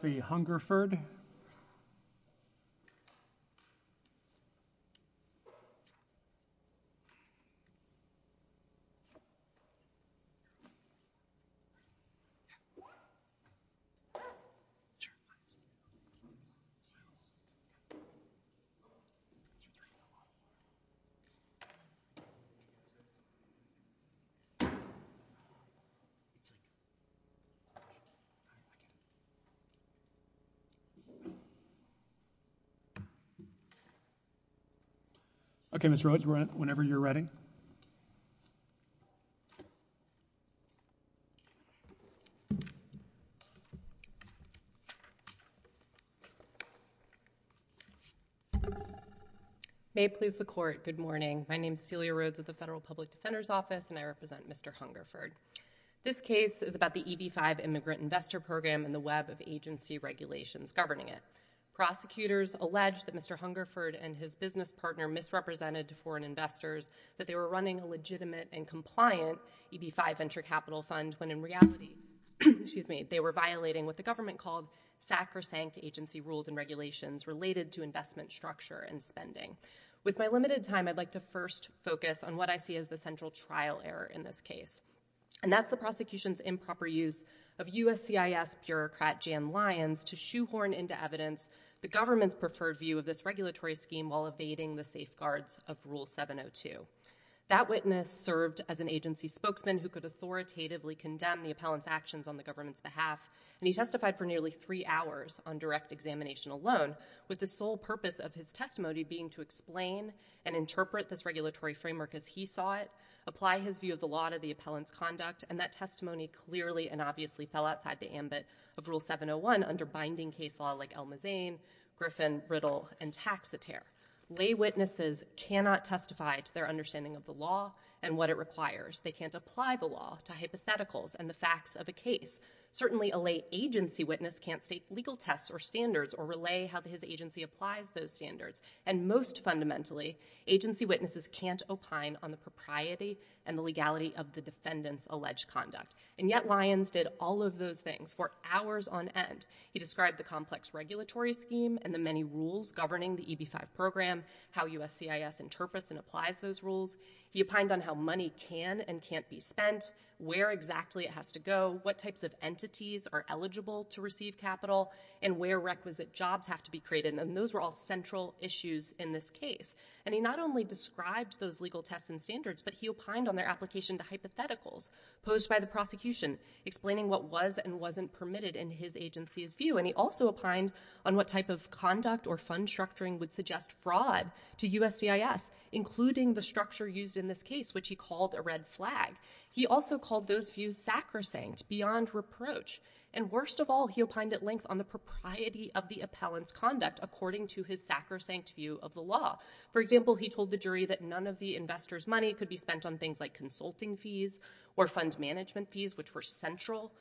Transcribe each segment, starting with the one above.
v. Hungerford May it please the Court, good morning. My name is Celia Rhoades with the Federal Public Defender's Office and I represent Mr. Hungerford. This case is about the EB-5 Immigrant Investor Program and the web of agency regulations governing it. Prosecutors allege that Mr. Hungerford and his business partner misrepresented to foreign investors that they were running a legitimate and compliant EB-5 Venture Capital Fund, when in reality they were violating what the government called sacrosanct agency rules and regulations related to investment structure and spending. With my limited time, I'd like to first focus on what I see as the Jan Lyons to shoehorn into evidence the government's preferred view of this regulatory scheme while evading the safeguards of Rule 702. That witness served as an agency spokesman who could authoritatively condemn the appellant's actions on the government's behalf and he testified for nearly three hours on direct examination alone with the sole purpose of his testimony being to explain and interpret this regulatory framework as he saw it, apply his view of the law to the of Rule 701 under binding case law like Elma Zane, Griffin, Riddle, and Taxotere. Lay witnesses cannot testify to their understanding of the law and what it requires. They can't apply the law to hypotheticals and the facts of a case. Certainly a lay agency witness can't state legal tests or standards or relay how his agency applies those standards and most fundamentally agency witnesses can't opine on the propriety and the legality of the defendant's hours on end. He described the complex regulatory scheme and the many rules governing the EB-5 program, how USCIS interprets and applies those rules. He opined on how money can and can't be spent, where exactly it has to go, what types of entities are eligible to receive capital and where requisite jobs have to be created and those were all central issues in this case. And he not only described those legal tests and standards but he opined on their application to hypotheticals posed by the prosecution explaining what was and wasn't permitted in his agency's view and he also opined on what type of conduct or fund structuring would suggest fraud to USCIS including the structure used in this case which he called a red flag. He also called those views sacrosanct beyond reproach and worst of all he opined at length on the propriety of the appellant's conduct according to his sacrosanct view of the law. For example he told the jury that none of the investor's money could be spent on things like consulting fees or fund management fees which were central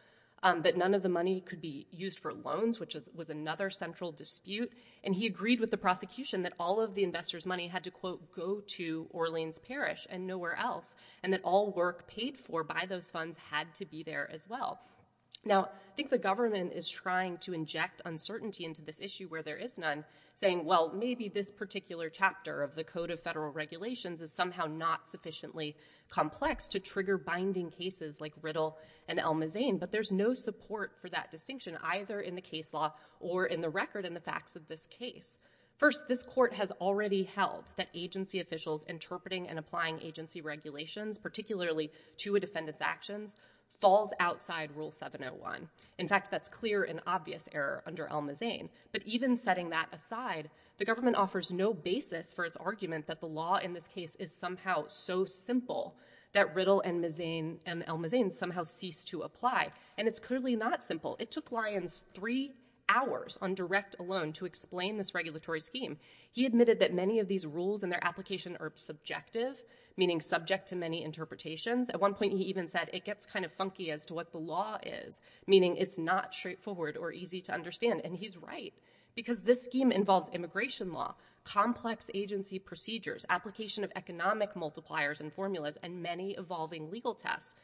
but none of the money could be used for loans which was another central dispute and he agreed with the prosecution that all of the investor's money had to quote go to Orleans Parish and nowhere else and that all work paid for by those funds had to be there as well. Now I think the government is trying to inject uncertainty into this issue where there is none saying well maybe this particular chapter of the Code of Federal Regulations is somehow not sufficiently complex to trigger binding cases like Riddle and Elma Zane but there's no support for that distinction either in the case law or in the record in the facts of this case. First this court has already held that agency officials interpreting and applying agency regulations particularly to a defendant's actions falls outside Rule 701. In fact that's clear and obvious error under Elma Zane but even setting that aside the government offers no basis for its argument that the law in this case is somehow so simple that Riddle and Elma Zane somehow cease to apply and it's clearly not simple. It took Lyons three hours on direct alone to explain this regulatory scheme. He admitted that many of these rules and their application are subjective meaning subject to many interpretations. At one point he even said it gets kind of funky as to what the law is meaning it's not straightforward or easy to understand and he's right because this scheme involves immigration law, complex agency procedures, application of economic multipliers and formulas and many evolving legal tests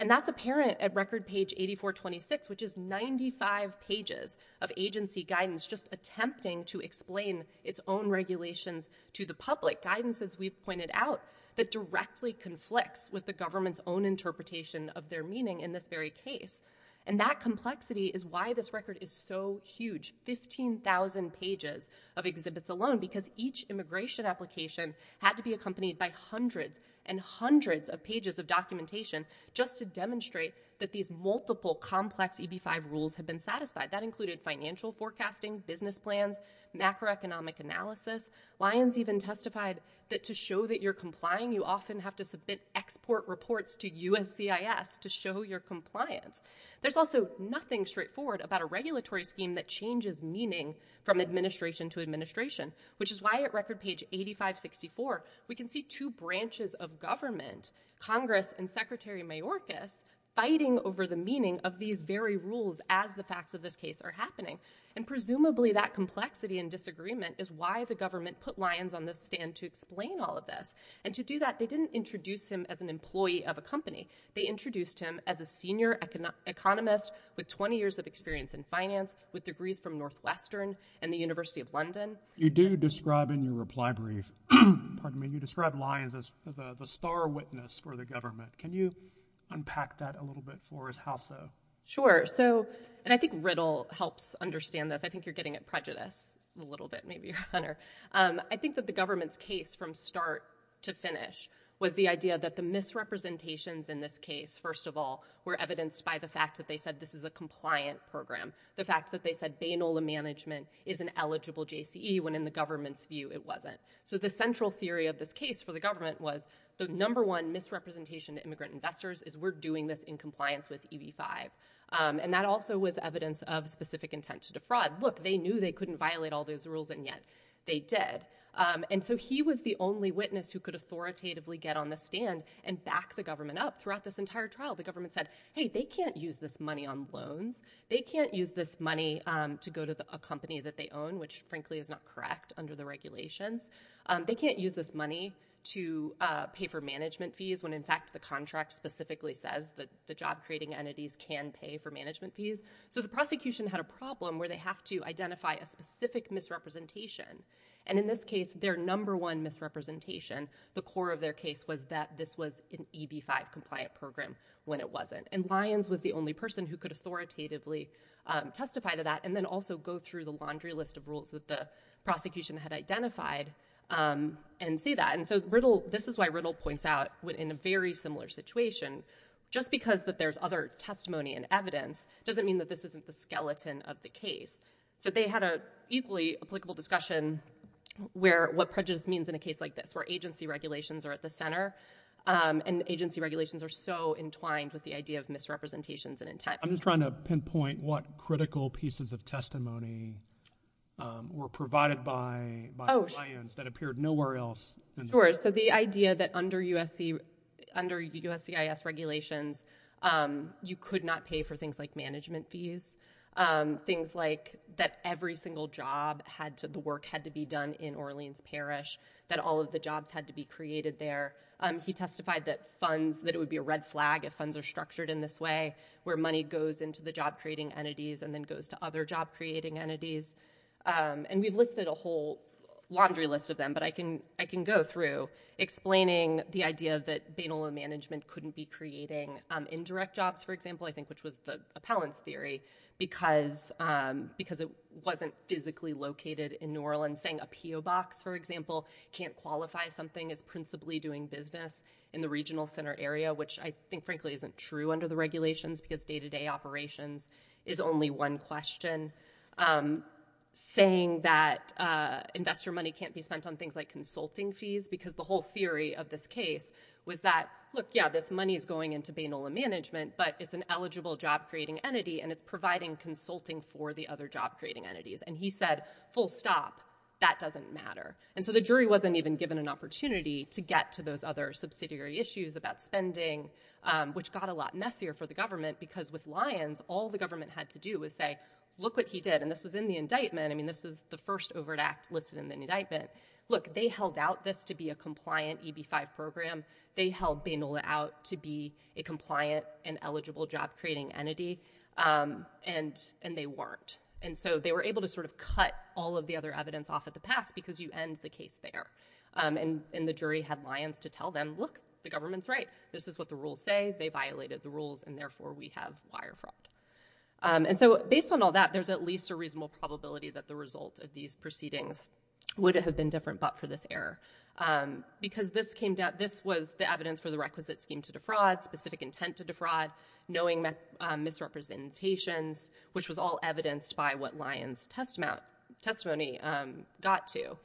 and that's apparent at record page 8426 which is 95 pages of agency guidance just attempting to explain its own regulations to the public. Guidance as we've pointed out that directly conflicts with the government's own interpretation of their meaning in this very case and that complexity is why this record is so huge. 15,000 pages of exhibits alone because each immigration application had to be accompanied by hundreds and hundreds of pages of documentation just to demonstrate that these multiple complex EB-5 rules have been satisfied. That included financial forecasting, business plans, macroeconomic analysis. Lyons even testified that to show that you're complying you often have to submit export reports to USCIS to show your compliance. There's also nothing straightforward about a regulatory scheme that changes meaning from administration to administration which is why at record page 8564 we can see two branches of government, Congress and Secretary Mayorkas fighting over the meaning of these very rules as the facts of this case are happening and presumably that complexity and disagreement is why the record is so huge. In addition to that they didn't introduce him as an employee of a company. They introduced him as a senior economist with 20 years of experience in finance with degrees from Northwestern and the University of London. You do describe in your reply brief, pardon me, you describe Lyons as the star witness for the government. Can you unpack that a little bit for us? How so? Sure. I think Riddle helps understand this. I think you're getting at prejudice a little bit maybe, Hunter. I think that the government's case from start to finish was the idea that the misrepresentations in this case, first of all, were evidenced by the fact that they said this is a compliant program. The fact that they said Baynola management is an eligible JCE when in the government's view it wasn't. The central theory of this case for the government was the number one misrepresentation to immigrant investors is we're doing this in compliance with EB-5. That also was evidence of specific intent to defraud. Look, they knew they couldn't violate all those rules and yet they did. He was the only witness who could authoritatively get on the stand and back the government up. Throughout this entire trial, the government said, hey, they can't use this money on loans. They can't use this money to go to a company that they own, which frankly is not correct under the regulations. They can't use this money to pay for management fees when in fact the contract specifically says that the job creating entities can pay for management fees. The prosecution had a problem where they have to identify a specific misrepresentation. In this case, their number one misrepresentation, the core of their case, was that this was an EB-5 compliant program when it wasn't. Lyons was the only person who could authoritatively testify to that and then also go through the laundry list of rules that the prosecution had identified and see that. This is why Riddle points out in a very similar situation, just because that there's other reasons, doesn't mean that this isn't the skeleton of the case. They had an equally applicable discussion where what prejudice means in a case like this, where agency regulations are at the center and agency regulations are so entwined with the idea of misrepresentations and intent. I'm just trying to pinpoint what critical pieces of testimony were provided by Lyons that appeared nowhere else. The idea that under USCIS regulations, you could not pay for things like management fees. Things like that every single job, the work had to be done in Orleans Parish, that all of the jobs had to be created there. He testified that it would be a red flag if funds are structured in this way, where money goes into the job creating entities and then goes to other job creating entities. We've listed a whole laundry list of them, but I can go through explaining the idea that Bainolo Management couldn't be creating indirect jobs, for example, I think which was the appellant's theory, because it wasn't physically located in New Orleans. Saying a PO box, for example, can't qualify something as principally doing business in the regional center area, which I think frankly isn't true under the regulations because day-to-day operations is only one question. Saying that investor money can't be spent on things like consulting fees, because the whole theory of this case was that, look, yeah, this money is going into Bainolo Management, but it's an eligible job creating entity and it's providing consulting for the other job creating entities. He said, full stop, that doesn't matter. The jury wasn't even given an opportunity to get to those other subsidiary issues about government had to do was say, look what he did, and this was in the indictment, I mean, this is the first overt act listed in the indictment, look, they held out this to be a compliant EB-5 program, they held Bainolo out to be a compliant and eligible job creating entity, and they weren't. They were able to sort of cut all of the other evidence off at the pass, because you end the case there. The jury had lions to tell them, look, the government's right, this is what the rules say, they violated the rules, and therefore we have wire fraud. And so based on all that, there's at least a reasonable probability that the result of these proceedings would have been different, but for this error. Because this was the evidence for the requisite scheme to defraud, specific intent to defraud, knowing misrepresentations, which was all evidenced by what lion's testimony got to.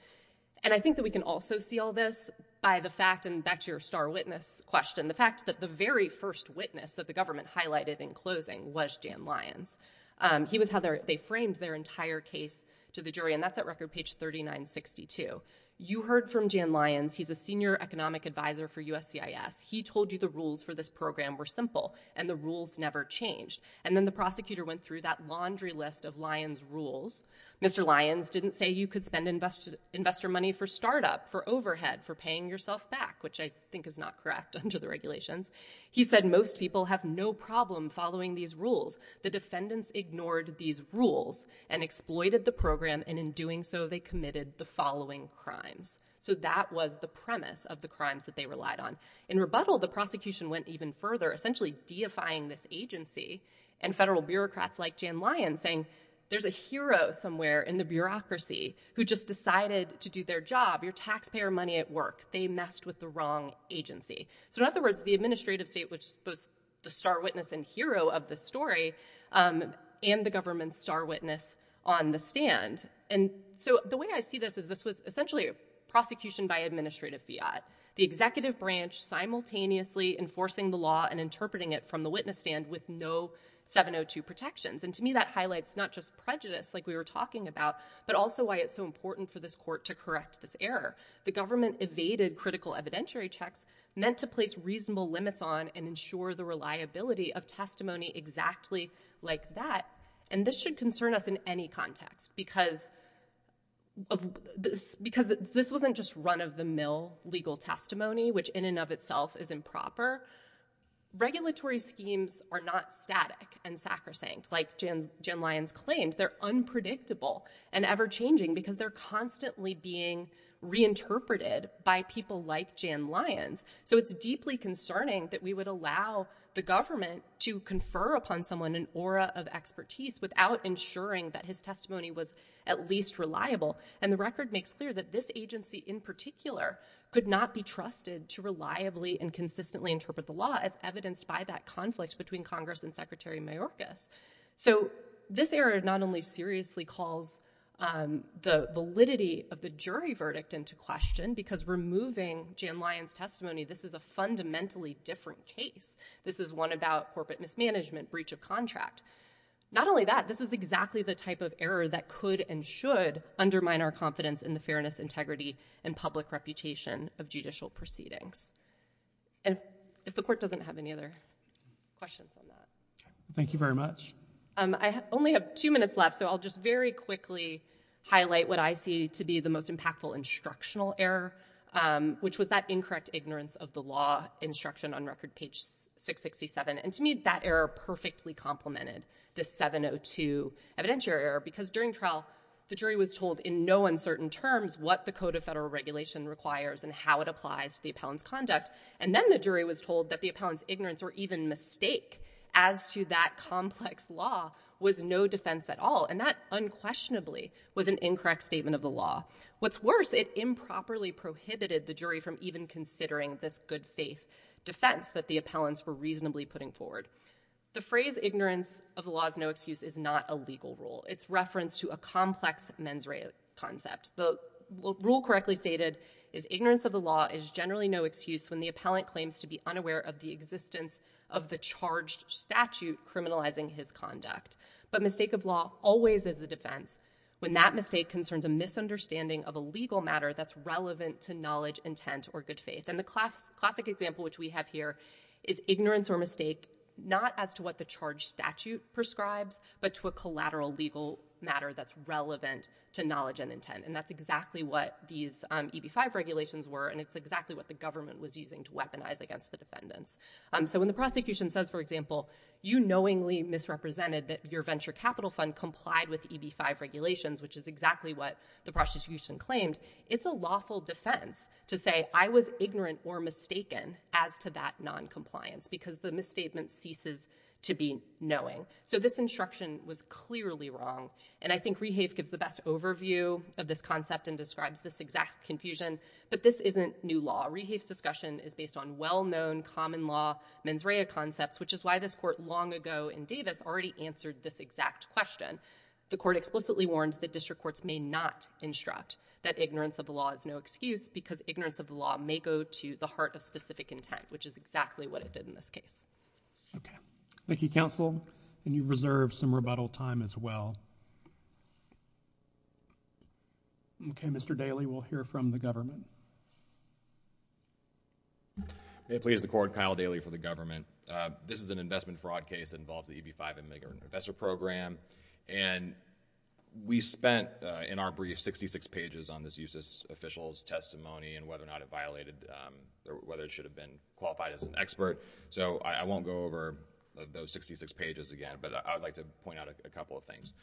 And I think that we can also see all this by the fact, and back to your star witness question, the fact that the very first witness that the government highlighted in closing was Dan Lyons. He was how they framed their entire case to the jury, and that's at record page 3962. You heard from Dan Lyons, he's a senior economic advisor for USCIS. He told you the rules for this program were simple, and the rules never changed. And then the prosecutor went through that laundry list of lion's rules, Mr. Lyons didn't say you could spend investor money for startup, for overhead, for paying yourself back, which I think is not correct under the regulations. He said most people have no problem following these rules. The defendants ignored these rules and exploited the program, and in doing so, they committed the following crimes. So that was the premise of the crimes that they relied on. In rebuttal, the prosecution went even further, essentially deifying this agency, and federal bureaucrats like Dan Lyons saying, there's a hero somewhere in the bureaucracy who just decided to do their job. Your taxpayer money at work, they messed with the wrong agency. So in other words, the administrative state was both the star witness and hero of the story, and the government's star witness on the stand. And so the way I see this is this was essentially a prosecution by administrative fiat. The executive branch simultaneously enforcing the law and interpreting it from the witness stand with no 702 protections. And to me, that highlights not just prejudice like we were talking about, but also why it's so important for this court to correct this error. The government evaded critical evidentiary checks meant to place reasonable limits on and ensure the reliability of testimony exactly like that. And this should concern us in any context, because this wasn't just run-of-the-mill legal testimony, which in and of itself is improper. Regulatory schemes are not static and sacrosanct like Dan Lyons claimed. They're unpredictable and ever-changing, because they're constantly being reinterpreted by people like Dan Lyons. So it's deeply concerning that we would allow the government to confer upon someone an aura of expertise without ensuring that his testimony was at least reliable. And the record makes clear that this agency in particular could not be trusted to reliably and consistently interpret the law as evidenced by that conflict between Congress and Secretary Mayorkas. So this error not only seriously calls the validity of the jury verdict into question, because removing Dan Lyons' testimony, this is a fundamentally different case. This is one about corporate mismanagement, breach of contract. Not only that, this is exactly the type of error that could and should undermine our confidence in the fairness, integrity, and public reputation of judicial proceedings. And if the court doesn't have any other questions on that. Thank you very much. I only have two minutes left, so I'll just very quickly highlight what I see to be the most impactful instructional error, which was that incorrect ignorance of the law instruction on record page 667. And to me, that error perfectly complemented the 702 evidentiary error. Because during trial, the jury was told in no uncertain terms what the Code of Federal Regulation requires and how it applies to the appellant's conduct. And then the jury was told that the appellant's ignorance or even mistake as to that complex law was no defense at all. And that unquestionably was an incorrect statement of the law. What's worse, it improperly prohibited the jury from even considering this good faith defense that the appellants were reasonably putting forward. The phrase ignorance of the law is no excuse is not a legal rule. It's reference to a complex mens rea concept. The rule correctly stated is ignorance of the law is generally no excuse when the appellant claims to be unaware of the existence of the charged statute criminalizing his conduct. But mistake of law always is a defense when that mistake concerns a misunderstanding of a legal matter that's relevant to knowledge, intent, or good faith. And the classic example which we have here is ignorance or mistake not as to what the charge statute prescribes, but to a collateral legal matter that's relevant to knowledge and intent. And that's exactly what these EB-5 regulations were, and it's exactly what the government was using to weaponize against the defendants. So when the prosecution says, for example, you knowingly misrepresented that your venture capital fund complied with EB-5 regulations, which is exactly what the prosecution claimed, it's a lawful defense to say I was ignorant or mistaken as to that noncompliance because the misstatement ceases to be knowing. So this instruction was clearly wrong. And I think Rehafe gives the best overview of this concept and describes this exact confusion, but this isn't new law. Rehafe's discussion is based on well-known common law mens rea concepts, which is why this court long ago in Davis already answered this exact question. The court explicitly warned that district courts may not instruct that ignorance of the law is no excuse because ignorance of the law may go to the heart of specific intent, which is exactly what it did in this case. Okay. Thank you, counsel. And you've reserved some rebuttal time as well. Okay. Mr. Daly, we'll hear from the government. May it please the court, Kyle Daly for the government. This is an investment fraud case that involves the EB-5 immigrant investor program, and we spent in our brief 66 pages on this U.S. officials' testimony and whether or not it violated, whether it should have been qualified as an expert. So I won't go over those 66 pages again, but I would like to point out a couple of things.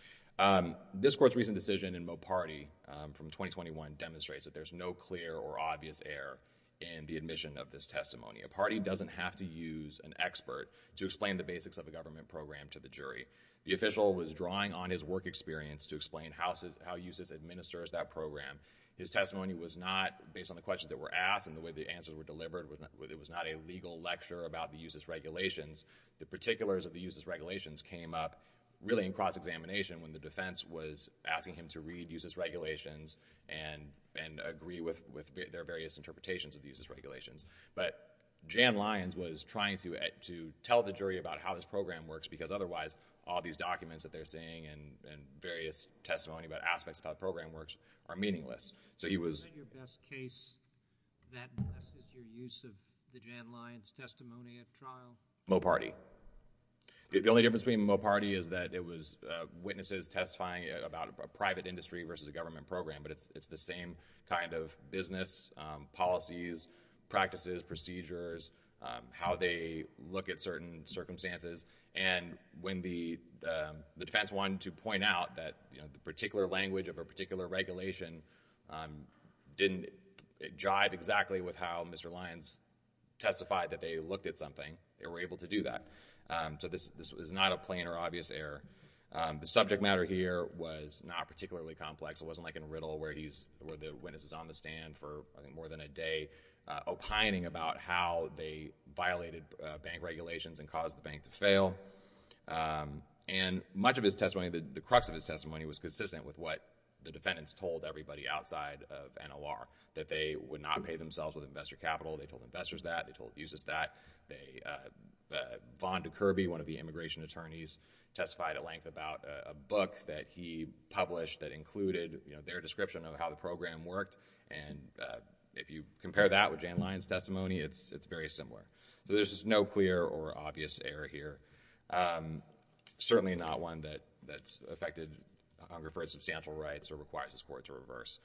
This court's recent decision in Mopardi from 2021 demonstrates that there's no clear or obvious error in the admission of this testimony. Mopardi doesn't have to use an expert to explain the basics of a government program to the jury. The official was drawing on his work experience to explain how he uses, administers that program. His testimony was not, based on the questions that were asked and the way the answers were about the U.S.'s regulations, the particulars of the U.S.'s regulations came up really in cross-examination when the defense was asking him to read U.S.'s regulations and agree with their various interpretations of the U.S.'s regulations. But Jan Lyons was trying to tell the jury about how this program works because otherwise all these documents that they're seeing and various testimony about aspects of how the So he was... that impresses your use of the Jan Lyons testimony at trial? Mopardi. The only difference between Mopardi is that it was witnesses testifying about a private industry versus a government program, but it's the same kind of business, policies, practices, procedures, how they look at certain circumstances. And when the defense wanted to point out that, you know, the particular language of a particular regulation didn't jive exactly with how Mr. Lyons testified that they looked at something, they were able to do that. So this was not a plain or obvious error. The subject matter here was not particularly complex. It wasn't like in Riddle where he's... where the witness is on the stand for more than a day opining about how they violated bank regulations and caused the bank to fail. And much of his testimony, the crux of his testimony was consistent with what the defendant has told everybody outside of NLR, that they would not pay themselves with investor capital. They told investors that, they told accusers that, they... Vonda Kirby, one of the immigration attorneys, testified at length about a book that he published that included, you know, their description of how the program worked, and if you compare that with Jan Lyons testimony, it's very similar. So there's no clear or obvious error here. Certainly not one that's affected, I'll refer to substantial rights, or requires this Court to reverse.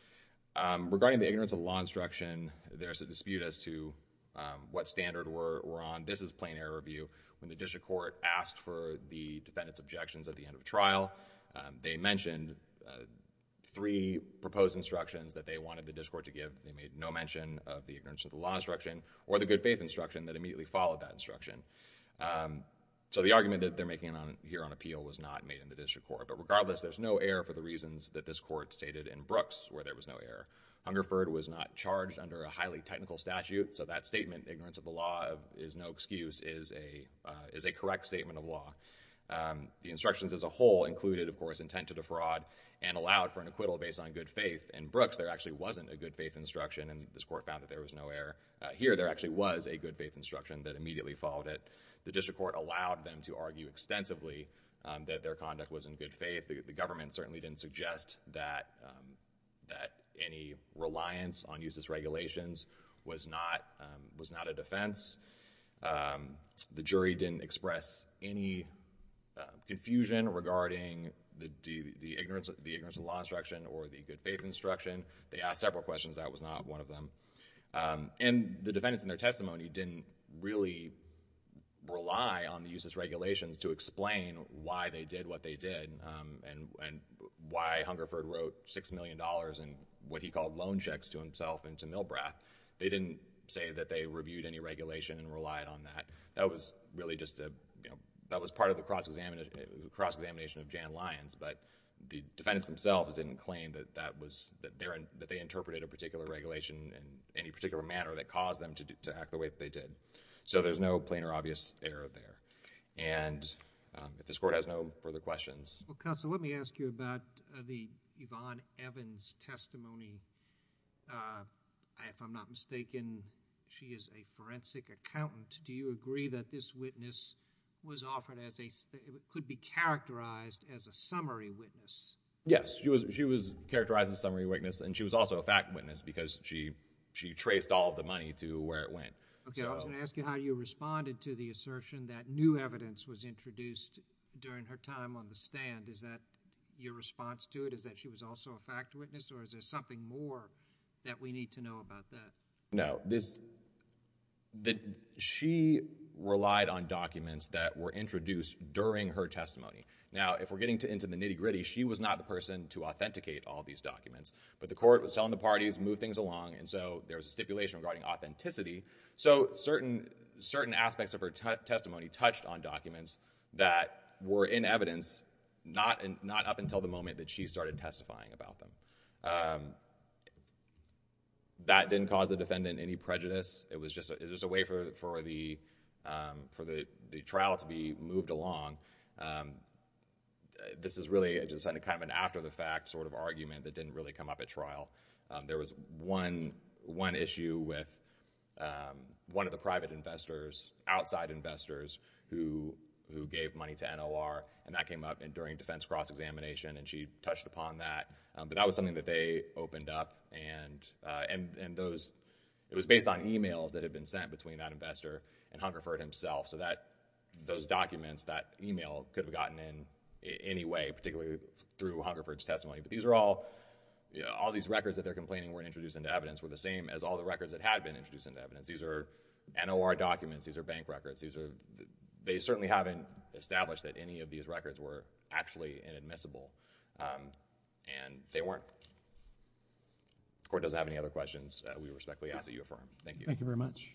Regarding the ignorance of the law instruction, there's a dispute as to what standard we're on. This is plain error review. When the district court asked for the defendant's objections at the end of the trial, they mentioned three proposed instructions that they wanted the district court to give. They made no mention of the ignorance of the law instruction, or the good faith instruction that immediately followed that instruction. So the argument that they're making here on appeal was not made in the district court. But regardless, there's no error for the reasons that this Court stated in Brooks, where there was no error. Hungerford was not charged under a highly technical statute, so that statement, ignorance of the law is no excuse, is a correct statement of law. The instructions as a whole included, of course, intent to defraud, and allowed for an acquittal based on good faith. In Brooks, there actually wasn't a good faith instruction, and this Court found that there was no error. Here, there actually was a good faith instruction that immediately followed it. The district court allowed them to argue extensively that their conduct was in good faith. The government certainly didn't suggest that any reliance on useless regulations was not a defense. The jury didn't express any confusion regarding the ignorance of the law instruction, or the good faith instruction. They asked several questions, that was not one of them. And the defendants in their testimony didn't really rely on the useless regulations to explain why they did what they did, and why Hungerford wrote $6 million in what he called loan checks to himself and to Milbrath. They didn't say that they reviewed any regulation and relied on that. That was really just a, you know, that was part of the cross-examination of Jan Lyons, but the defendants themselves didn't claim that that was, that they interpreted a particular regulation in any particular manner that caused them to act the way that they did. So there's no plain or obvious error there. And if this Court has no further questions... Well, Counselor, let me ask you about the Yvonne Evans testimony. If I'm not mistaken, she is a forensic accountant. Do you agree that this witness was offered as a... could be characterized as a summary witness? Yes. She was characterized as a summary witness, and she was also a fact witness, because she traced all of the money to where it went. Okay. I was going to ask you how you responded to the assertion that new evidence was introduced during her time on the stand. Is that your response to it, is that she was also a fact witness, or is there something more that we need to know about that? No. The thing is that this... that she relied on documents that were introduced during her testimony. Now, if we're getting into the nitty-gritty, she was not the person to authenticate all these documents, but the Court was telling the parties, move things along, and so there was a stipulation regarding authenticity. So certain aspects of her testimony touched on documents that were in evidence, not up until the moment that she started testifying about them. That didn't cause the defendant any prejudice. It was just a way for the trial to be moved along. This is really just kind of an after-the-fact sort of argument that didn't really come up at trial. There was one issue with one of the private investors, outside investors, who gave money to NOR, and that came up during defense cross-examination, and she touched upon that. But that was something that they opened up, and those... it was based on emails that had been sent between that investor and Hungerford himself. So those documents, that email, could have gotten in any way, particularly through Hungerford's testimony. But these are all... all these records that they're complaining were introduced into evidence were the same as all the records that had been introduced into evidence. These are NOR documents, these are bank records, these are... they certainly haven't established that any of these records were actually inadmissible. And they weren't. If the Court doesn't have any other questions, we respectfully ask that you affirm. Thank you. Thank you very much.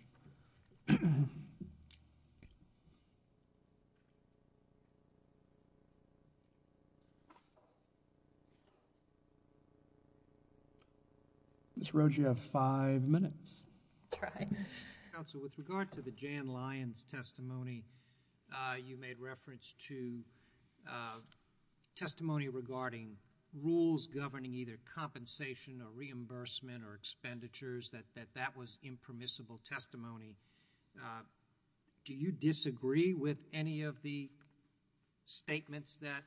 Ms. Roge, you have five minutes. That's right. Counsel, with regard to the Jan Lyons testimony, you made reference to testimony regarding rules governing either compensation or reimbursement or expenditures, that that was impermissible testimony. Do you disagree with any of the statements that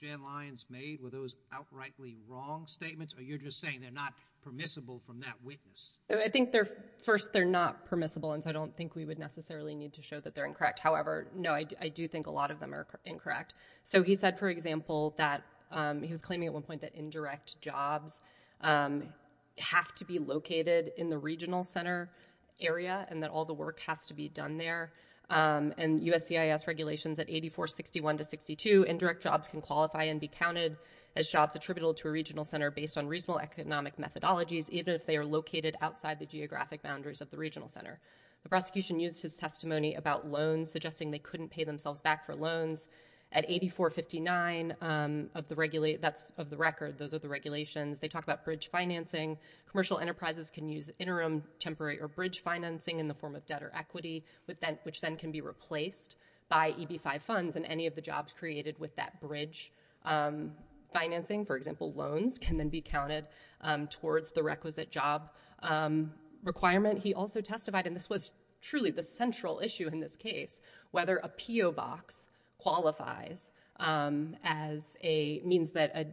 Jan Lyons made? Were those outrightly wrong statements, or you're just saying they're not permissible from that witness? I think they're... first, they're not permissible, and so I don't think we would necessarily need to show that they're incorrect. However, no, I do think a lot of them are incorrect. So he said, for example, that he was claiming at one point that indirect jobs have to be located in the regional center area and that all the work has to be done there. And USCIS regulations at 8461 to 62, indirect jobs can qualify and be counted as jobs attributable to a regional center based on reasonable economic methodologies, even if they are located outside the geographic boundaries of the regional center. The prosecution used his testimony about loans, suggesting they couldn't pay themselves back for loans. At 8459 of the record, those are the regulations, they talk about bridge financing. Commercial enterprises can use interim, temporary, or bridge financing in the form of debt or equity, which then can be replaced by EB-5 funds in any of the jobs created with that loan. Commercial loans can then be counted towards the requisite job requirement. He also testified, and this was truly the central issue in this case, whether a P.O. box qualifies as a... means that a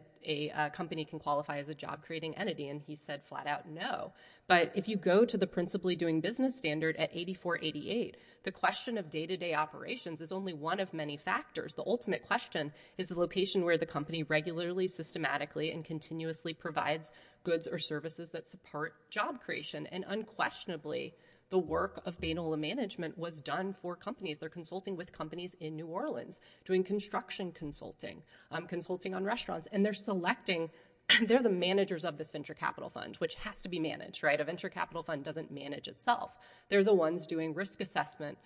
company can qualify as a job-creating entity, and he said flat out no. But if you go to the principally doing business standard at 8488, the question of day-to-day operations is only one of many factors. The ultimate question is the location where the company regularly, systematically, and continuously provides goods or services that support job creation, and unquestionably, the work of Bainola management was done for companies. They're consulting with companies in New Orleans, doing construction consulting, consulting on restaurants, and they're selecting... they're the managers of this venture capital fund, which has to be managed, right? A venture capital fund doesn't manage itself. They're the ones doing risk assessment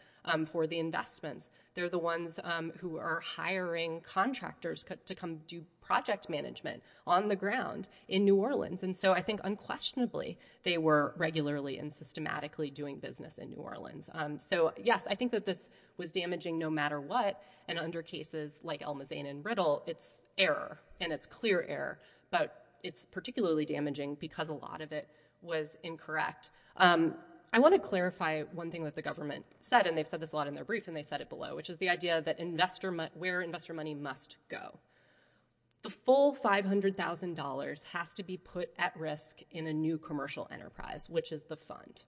for the investments. They're the ones who are hiring contractors to come do project management on the ground in New Orleans, and so I think unquestionably, they were regularly and systematically doing business in New Orleans. So, yes, I think that this was damaging no matter what, and under cases like Elmazain and Riddle, it's error, and it's clear error, but it's particularly damaging because a lot of it was incorrect. I want to clarify one thing that the government said, and they've said this a lot in their memo below, which is the idea that where investor money must go. The full $500,000 has to be put at risk in a new commercial enterprise, which is the fund.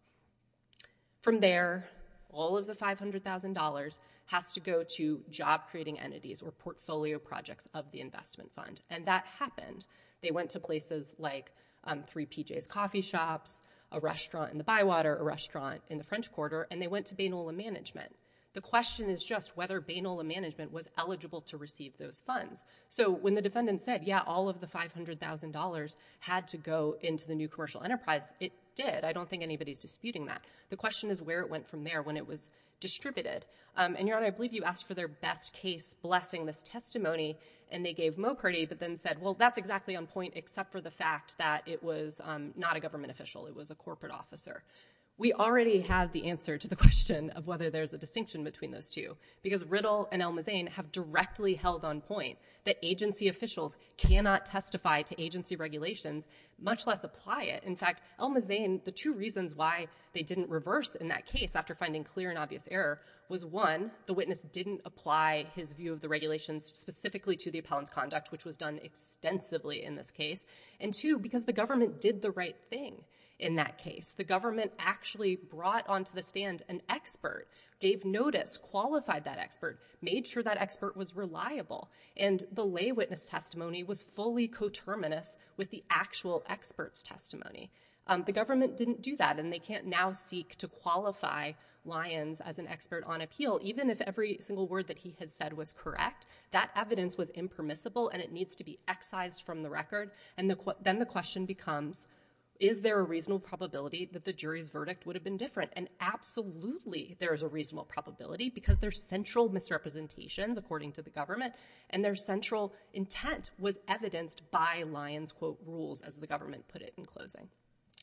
From there, all of the $500,000 has to go to job creating entities or portfolio projects of the investment fund, and that happened. They went to places like 3PJ's Coffee Shops, a restaurant in the Bywater, a restaurant in the French Quarter, and they went to Bainola management. The question is just whether Bainola management was eligible to receive those funds. So when the defendant said, yeah, all of the $500,000 had to go into the new commercial enterprise, it did. I don't think anybody's disputing that. The question is where it went from there when it was distributed, and, Your Honor, I believe you asked for their best case blessing, this testimony, and they gave Mokherdi, but then said, well, that's exactly on point except for the fact that it was not a government official. It was a corporate officer. We already have the answer to the question of whether there's a distinction between those two, because Riddle and El-Mazain have directly held on point that agency officials cannot testify to agency regulations, much less apply it. In fact, El-Mazain, the two reasons why they didn't reverse in that case after finding clear and obvious error was, one, the witness didn't apply his view of the regulations specifically to the appellant's conduct, which was done extensively in this case, and, two, because the government did the right thing in that case. The government actually brought onto the stand an expert, gave notice, qualified that expert, made sure that expert was reliable, and the lay witness testimony was fully coterminous with the actual expert's testimony. The government didn't do that, and they can't now seek to qualify Lyons as an expert on appeal even if every single word that he had said was correct. That evidence was impermissible, and it needs to be excised from the record, and then the that the jury's verdict would have been different, and absolutely there is a reasonable probability because there's central misrepresentations, according to the government, and their central intent was evidenced by Lyons' quote, rules, as the government put it in closing.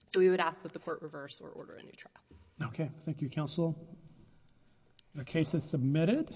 So we would ask that the court reverse or order a new trial. Okay. Thank you, counsel. The case is submitted.